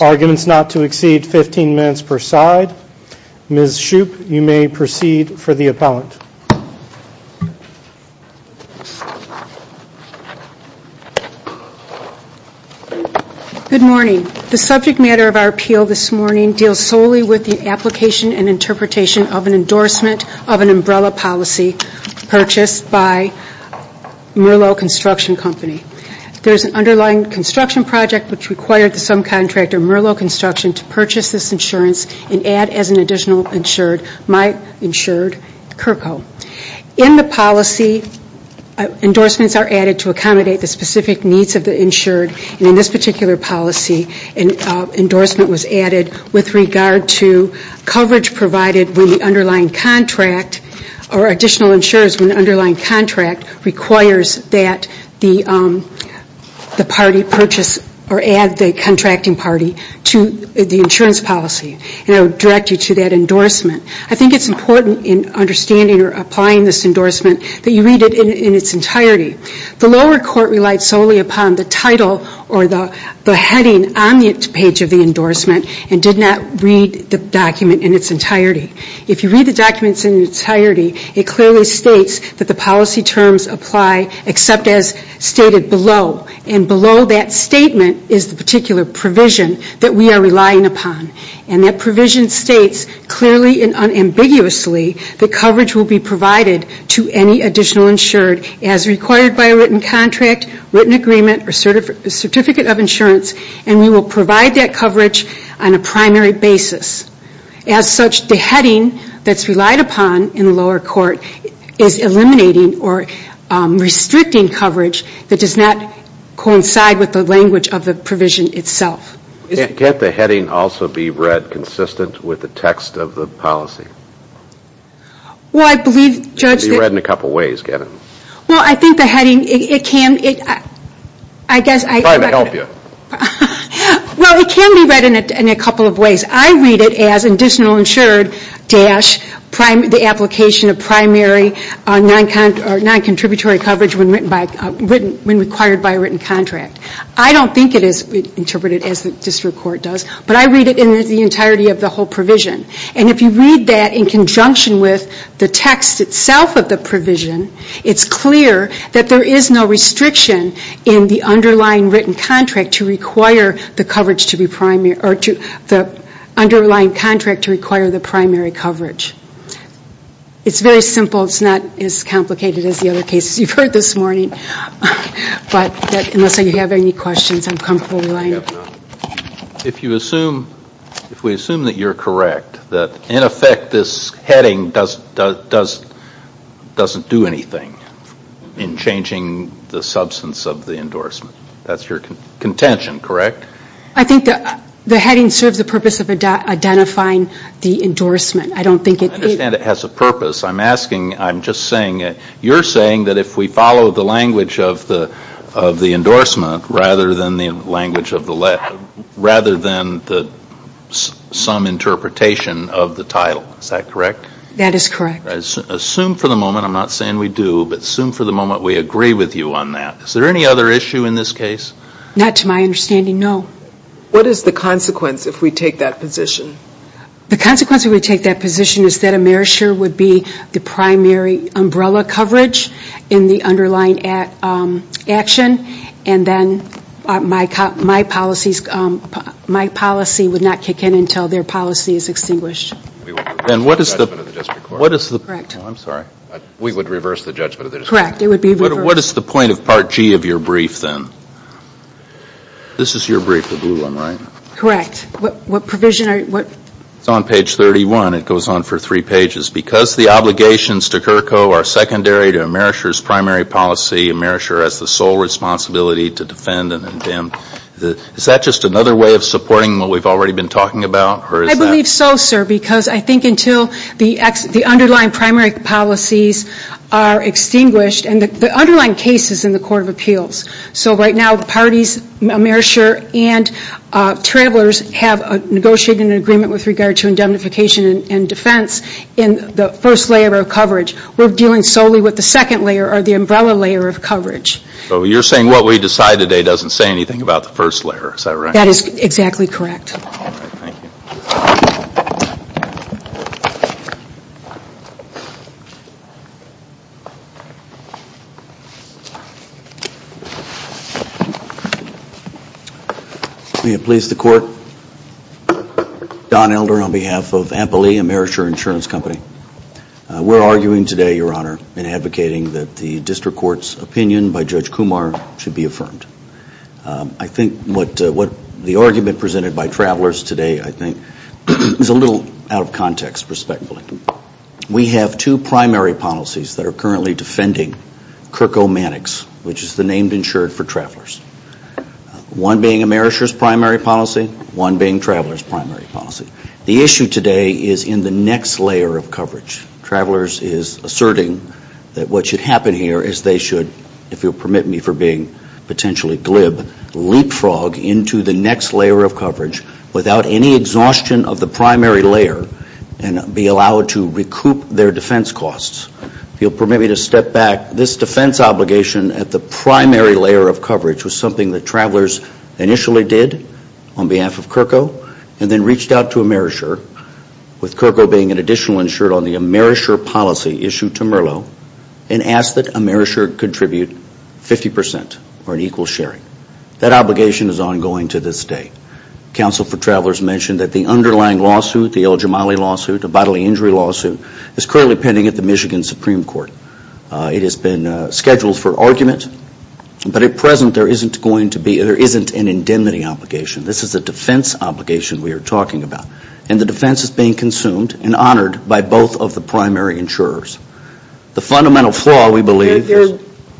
Arguments not to exceed 15 minutes per side. Ms. Shoup, you may proceed for the appellant. Good morning. The subject matter of our appeal this morning deals solely with the application and interpretation of an endorsement of an umbrella policy purchased by Merlot Construction Company. There is an underlying construction project which required the subcontractor Merlot Construction to purchase this insurance and add as an additional insured, my insured, Kirko. In the policy, endorsements are added to accommodate the specific needs of the insured and in this particular policy, an endorsement was added with regard to coverage provided with the underlying contract or additional insurers when the underlying contract requires that the party purchase or add the contracting party to the insurance policy. And I would direct you to that endorsement. I think it's important in understanding or applying this endorsement that you read it in its entirety. The lower court relied solely upon the title or the heading on the page of the endorsement and did not read the document in its entirety. If you read the documents in its entirety, it clearly states that the policy terms apply except as stated below. And below that statement is the particular provision that we are relying upon. And that provision states clearly and unambiguously that coverage will be provided to any additional insured as required by a written contract, written agreement or certificate of insurance and we will provide that coverage on a primary basis. As such, the heading that's relied upon in the lower court is eliminating or restricting coverage that does not coincide with the language of the provision itself. Can't the heading also be read consistent with the text of the policy? Well, I believe, Judge, It can be read in a couple of ways, Kevin. Well, I think the heading, it can, I guess I'm trying to help you. Well, it can be read in a couple of ways. I read it as additional insured dash the application of primary non-contributory coverage when required by a written contract. I don't think it is interpreted as the district court does, but I read it in the entirety of the whole that in conjunction with the text itself of the provision, it's clear that there is no restriction in the underlying written contract to require the coverage to be primary or the underlying contract to require the primary coverage. It's very simple. It's not as complicated as the other cases you've heard this morning, but unless you have any questions, I'm comfortable relying upon them. If you assume, if we assume that you're correct, that in effect this heading doesn't do anything in changing the substance of the endorsement, that's your contention, correct? I think the heading serves the purpose of identifying the endorsement. I don't think it I understand it has a purpose. I'm asking, I'm just saying, you're saying that if we follow the language of the endorsement rather than the language of the letter, rather than some interpretation of the title, is that correct? That is correct. Assume for the moment, I'm not saying we do, but assume for the moment we agree with you on that. Is there any other issue in this case? Not to my understanding, no. What is the consequence if we take that position? The consequence if we take that position is that a meritsure would be the primary umbrella coverage in the underlying action, and then my policy would not kick in until their policy is extinguished. We would reverse the judgment of the district court. I'm sorry. We would reverse the judgment of the district court. Correct. It would be reversed. What is the point of Part G of your brief then? This is your brief, the blue one, right? Correct. What provision are you, what It goes on for three pages. Because the obligations to CURCO are secondary to a meritsure's primary policy, a merisure has the sole responsibility to defend and condemn. Is that just another way of supporting what we've already been talking about? I believe so, sir, because I think until the underlying primary policies are extinguished, and the underlying case is in the Court of Appeals. So right now, parties, a merisure and travelers have negotiated an agreement with regard to indemnification and defense in the first layer of coverage. We're dealing solely with the second layer or the umbrella layer of coverage. So you're saying what we decide today doesn't say anything about the first layer. Is that right? That is exactly correct. All right. Thank you. May it please the Court. Don Elder on behalf of Ampeli, a merisure insurance company. We're arguing today, Your Honor, and advocating that the district court's opinion by Judge Kumar should be affirmed. I think what the argument presented by travelers today, I think, is a little out of context, respectfully. We have two primary policies that are currently defending Kirko Manix, which is the named insured for travelers. One being a merisure's primary policy, one being travelers' primary policy. The issue today is in the next layer of coverage. Travelers is asserting that what should happen here is they should, if you'll permit me for being potentially glib, leapfrog into the next layer of coverage without any exhaustion of the primary layer and be allowed to recoup their defense costs. If you'll permit me to step back, this defense obligation at the primary layer of coverage was something that travelers initially did on behalf of Kirko and then reached out to a merisure, with Kirko being an additional insured on the merisure policy issued to Merlo, and asked that a merisure contribute 50 percent or an equal sharing. That obligation is ongoing to this day. Council for Travelers mentioned that the underlying lawsuit, the El Jamali lawsuit, a bodily injury lawsuit, is currently pending at the Michigan Supreme Court. It has been scheduled for argument, but at present there isn't an indemnity obligation. This is a defense obligation we are talking about. And the defense is being consumed and honored by both of the primary insurers. The fundamental flaw, we believe, is...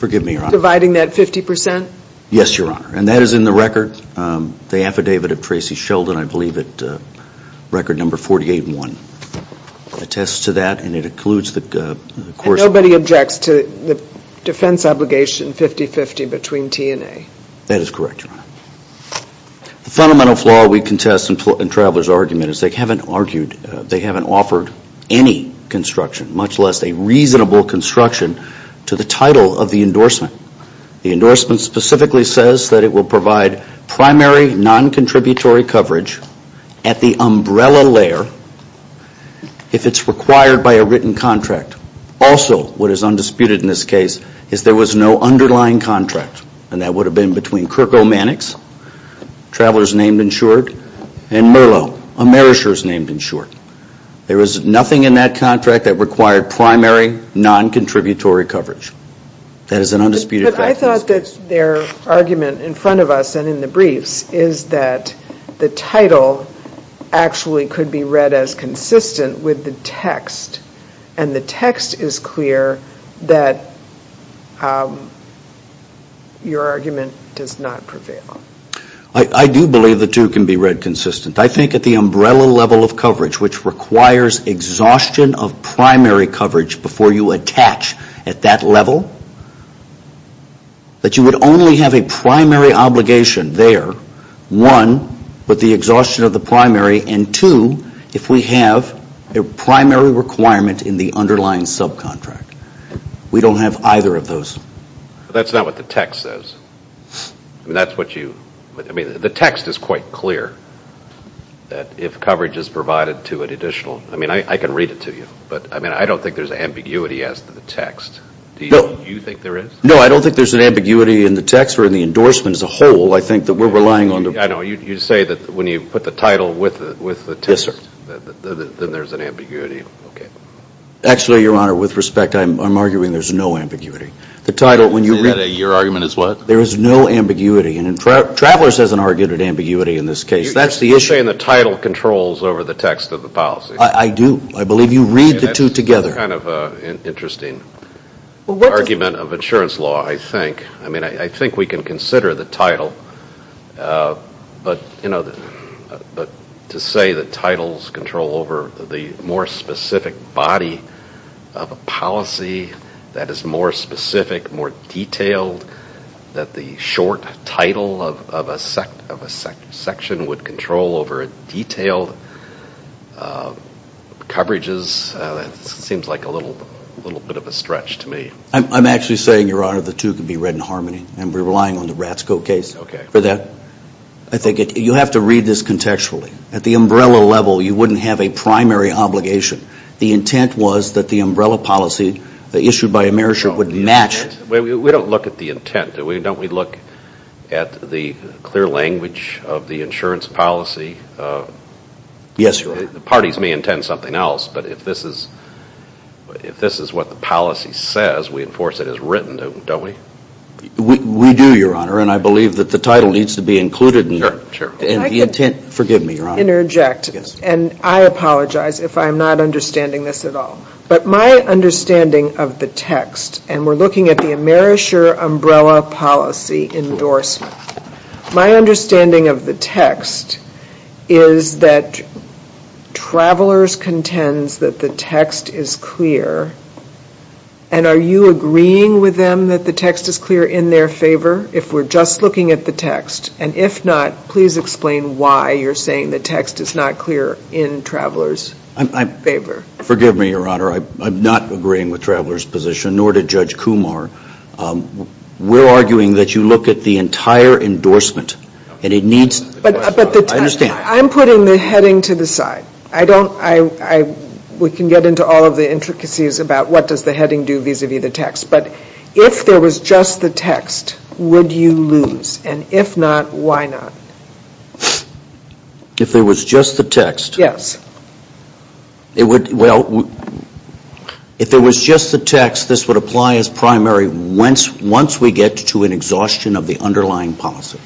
You're dividing that 50 percent? Yes, Your Honor. And that is in the record, the affidavit of Tracy Sheldon, I believe, at record number 48-1. It attests to that and it includes the course... And nobody objects to the defense obligation 50-50 between T and A? That is correct, Your Honor. The fundamental flaw we contest in Travelers' argument is they haven't argued, they haven't offered any construction, much less a reasonable construction, to the title of the endorsement. The endorsement specifically says that it will provide primary non-contributory coverage at the umbrella layer if it's required by a written contract. Also, what is undisputed in this case, is there was no underlying contract. And that would have been between Kirko Mannix, Travelers named and insured, and Merlo, a Merisher's named and insured. There was nothing in that contract that required primary non-contributory coverage. That is an undisputed fact. But I thought that their argument in front of us and in the briefs is that the title actually could be read as consistent with the text. And the text is clear that your argument does not prevail. I do believe the two can be read consistent. I think at the umbrella level of coverage, which requires exhaustion of primary coverage before you attach at that level, that you would only have a primary obligation there, one, with the exhaustion of the primary, and two, if we have a primary requirement in the underlying subcontract. We don't have either of those. That's not what the text says. And that's what you – I mean, the text is quite clear that if coverage is provided to an additional – I mean, I can read it to you. But, I mean, I don't think there's ambiguity as to the text. Do you think there is? No, I don't think there's an ambiguity in the text or in the endorsement as a whole. I think that we're relying on the – I know. You say that when you put the title with the text, then there's an ambiguity. Okay. Actually, Your Honor, with respect, I'm arguing there's no ambiguity. The title, when you – Your argument is what? There is no ambiguity. And Travelers has an argument of ambiguity in this case. That's the issue. You're saying the title controls over the text of the policy. I do. I believe you read the two together. That's kind of an interesting argument of insurance law, I think. I mean, I think we can consider the title. But, you know, to say that titles control over the more specific body of a policy that is more specific, more detailed, that the short title of a section would control over detailed coverages, that seems like a little bit of a stretch to me. I'm actually saying, Your Honor, the two could be read in harmony, and we're relying on the Ratzko case for that. Okay. I think you have to read this contextually. At the umbrella level, you wouldn't have a primary obligation. The intent was that the umbrella policy issued by AmeriShare would match. We don't look at the intent. Don't we look at the clear language of the insurance policy? Yes, Your Honor. The parties may intend something else, but if this is what the policy says, we enforce it as written, don't we? We do, Your Honor, and I believe that the title needs to be included in the intent. Forgive me, Your Honor. May I interject? Yes. And I apologize if I'm not understanding this at all. But my understanding of the text, and we're looking at the AmeriShare umbrella policy endorsement, my understanding of the text is that travelers contends that the text is clear, and are you agreeing with them that the text is clear in their favor, if we're just looking at the text? And if not, please explain why you're saying the text is not clear in travelers' favor. Forgive me, Your Honor. I'm not agreeing with travelers' position, nor did Judge Kumar. We're arguing that you look at the entire endorsement, and it needs to be clear. I understand. I'm putting the heading to the side. We can get into all of the intricacies about what does the heading do vis-à-vis the text. But if there was just the text, would you lose? And if not, why not? If there was just the text? Yes. Well, if there was just the text, this would apply as primary once we get to an exhaustion of the underlying policy.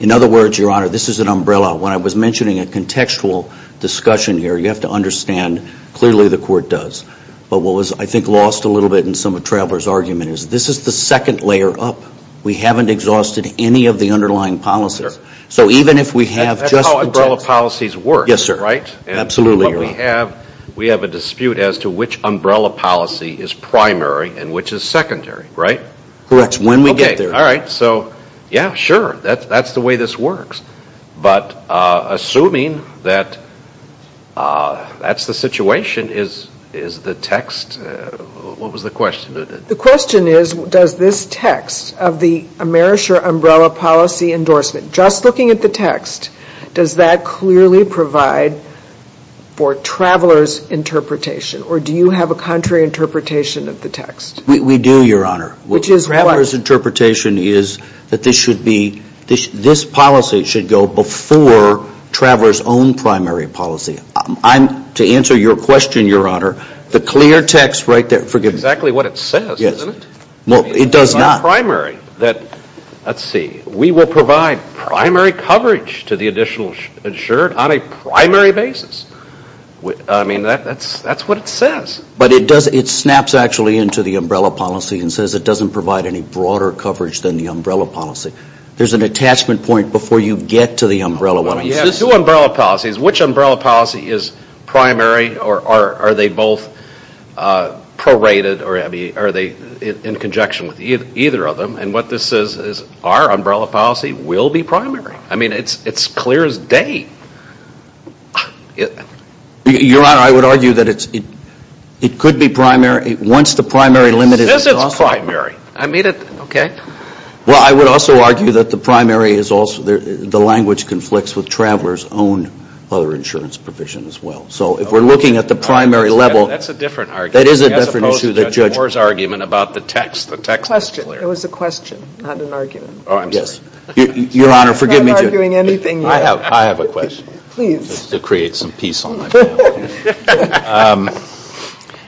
In other words, Your Honor, this is an umbrella. When I was mentioning a contextual discussion here, you have to understand, clearly the Court does. But what was, I think, lost a little bit in some of travelers' argument is this is the second layer up. We haven't exhausted any of the underlying policies. So even if we have just the text. That's how umbrella policies work, right? Yes, sir. Absolutely, Your Honor. We have a dispute as to which umbrella policy is primary and which is secondary, right? Correct. When we get there. Okay. All right. So, yeah, sure. That's the way this works. But assuming that that's the situation, is the text, what was the question? The question is, does this text of the Amerisher umbrella policy endorsement, just looking at the text, does that clearly provide for travelers' interpretation? Or do you have a contrary interpretation of the text? We do, Your Honor. Which is what? Travelers' interpretation is that this policy should go before travelers' own primary policy. To answer your question, Your Honor, the clear text right there, forgive me. That's exactly what it says, isn't it? Well, it does not. It's not primary. Let's see. We will provide primary coverage to the additional insured on a primary basis. I mean, that's what it says. But it does, it snaps actually into the umbrella policy and says it doesn't provide any broader coverage than the umbrella policy. There's an attachment point before you get to the umbrella one. Well, you have two umbrella policies. Which umbrella policy is primary or are they both prorated or are they in conjunction with either of them? And what this says is our umbrella policy will be primary. I mean, it's clear as day. Your Honor, I would argue that it could be primary. Once the primary limit is exhausted. It says it's primary. Okay. Well, I would also argue that the language conflicts with travelers' own other insurance provision as well. So if we're looking at the primary level. That's a different argument. That is a different issue. As opposed to Judge Moore's argument about the text. The text is clear. It was a question, not an argument. Oh, I'm sorry. Your Honor, forgive me. I'm not arguing anything. I have a question. Please. To create some peace on my panel.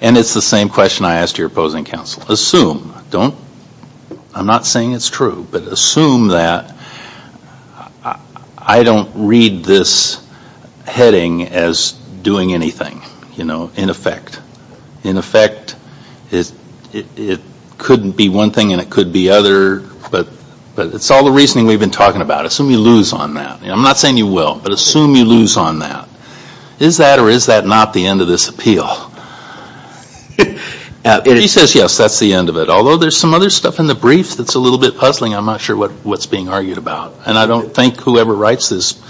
And it's the same question I asked your opposing counsel. Assume. Don't. I'm not saying it's true. But assume that I don't read this heading as doing anything, you know, in effect. In effect, it could be one thing and it could be other. But it's all the reasoning we've been talking about. Assume you lose on that. I'm not saying you will. But assume you lose on that. Is that or is that not the end of this appeal? She says yes, that's the end of it. Although there's some other stuff in the brief that's a little bit puzzling. I'm not sure what's being argued about. And I don't think whoever writes this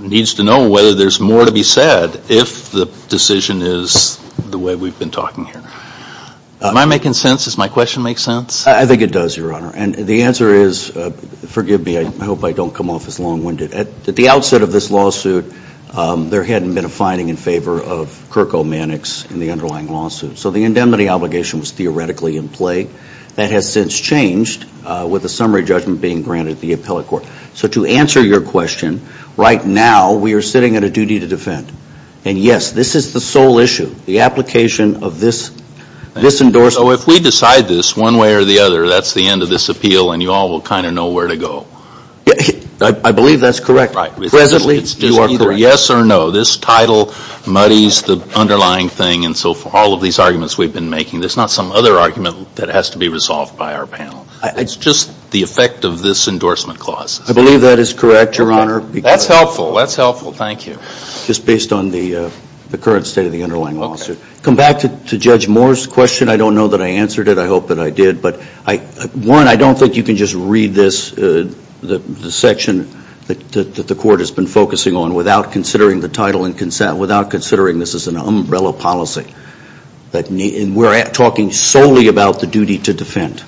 needs to know whether there's more to be said if the decision is the way we've been talking here. Am I making sense? Does my question make sense? I think it does, Your Honor. And the answer is, forgive me. I hope I don't come off as long-winded. At the outset of this lawsuit, there hadn't been a finding in favor of Kirko Mannix in the underlying lawsuit. So the indemnity obligation was theoretically in play. That has since changed with a summary judgment being granted at the appellate court. So to answer your question, right now we are sitting at a duty to defend. And, yes, this is the sole issue. The application of this endorsement. So if we decide this one way or the other, that's the end of this appeal and you all will kind of know where to go. I believe that's correct. Presently, you are correct. It's just either yes or no. This title muddies the underlying thing. And so for all of these arguments we've been making, there's not some other argument that has to be resolved by our panel. It's just the effect of this endorsement clause. I believe that is correct, Your Honor. That's helpful. That's helpful. Thank you. Just based on the current state of the underlying lawsuit. Come back to Judge Moore's question. I don't know that I answered it. I hope that I did. But, one, I don't think you can just read this section that the court has been focusing on without considering the title and without considering this is an umbrella policy. And we're talking solely about the duty to defend.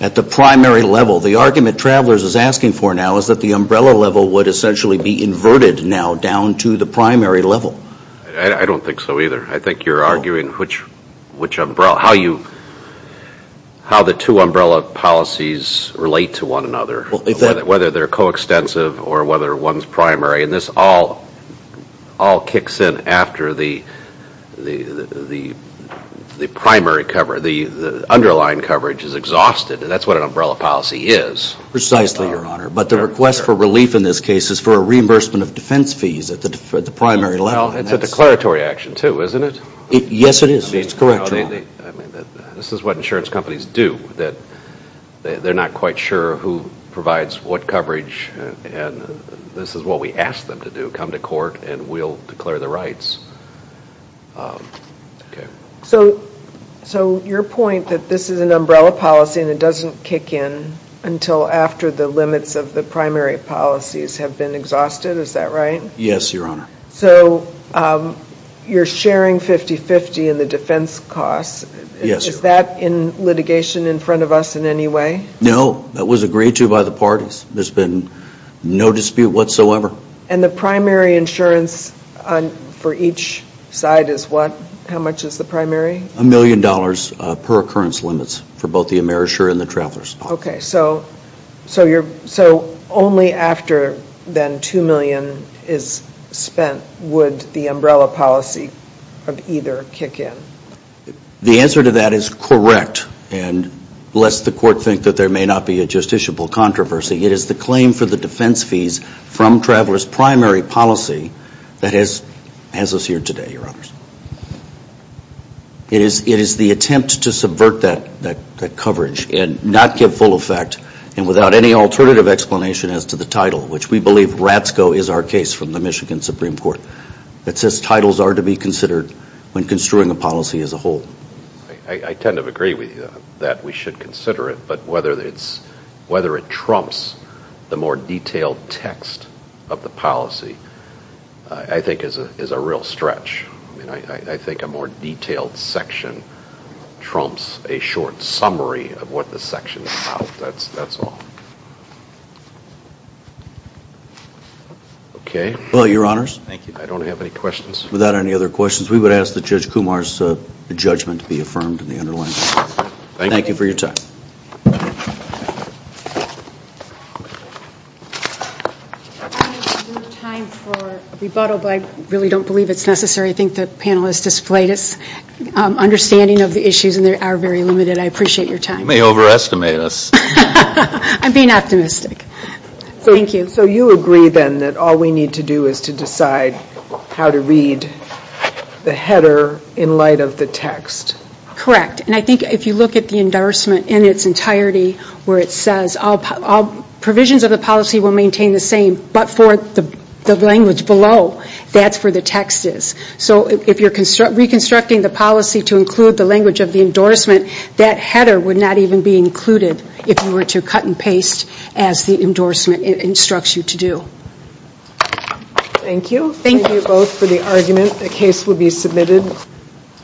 At the primary level, the argument Travelers is asking for now is that the umbrella level would essentially be inverted now down to the primary level. I don't think so either. I think you're arguing how the two umbrella policies relate to one another. Whether they're coextensive or whether one's primary. And this all kicks in after the underlying coverage is exhausted. And that's what an umbrella policy is. Precisely, Your Honor. But the request for relief in this case is for a reimbursement of defense fees at the primary level. Well, it's a declaratory action, too, isn't it? Yes, it is. It's correct, Your Honor. This is what insurance companies do. They're not quite sure who provides what coverage. And this is what we ask them to do, come to court and we'll declare the rights. So your point that this is an umbrella policy and it doesn't kick in until after the limits of the primary policies have been exhausted, is that right? Yes, Your Honor. So you're sharing 50-50 in the defense costs. Yes, Your Honor. Is that in litigation in front of us in any way? No. That was agreed to by the parties. There's been no dispute whatsoever. And the primary insurance for each side is what? How much is the primary? A million dollars per occurrence limits for both the emerger and the travelers. Okay. So only after then 2 million is spent would the umbrella policy of either kick in? The answer to that is correct. And lest the court think that there may not be a justiciable controversy, it is the claim for the defense fees from travelers' primary policy that has us here today, Your Honors. It is the attempt to subvert that coverage and not give full effect and without any alternative explanation as to the title, which we believe Ratzko is our case from the Michigan Supreme Court, that says titles are to be considered when construing a policy as a whole. I tend to agree with you that we should consider it, but whether it trumps the more detailed text of the policy I think is a real stretch. I think a more detailed section trumps a short summary of what the section is about. That's all. Okay. Well, Your Honors. Thank you. I don't have any questions. Without any other questions, we would ask that Judge Kumar's judgment be affirmed in the underlying case. Thank you for your time. Your Honors, we have time for a rebuttal, but I really don't believe it's necessary. I think the panel has displayed its understanding of the issues and they are very limited. I appreciate your time. You may overestimate us. I'm being optimistic. Thank you. So you agree then that all we need to do is to decide how to read the header in light of the text? Correct. And I think if you look at the endorsement in its entirety where it says all provisions of the policy will maintain the same, but for the language below, that's where the text is. So if you're reconstructing the policy to include the language of the endorsement, that header would not even be included if you were to cut and paste as the endorsement instructs you to do. Thank you. Thank you both for the argument. The case will be submitted.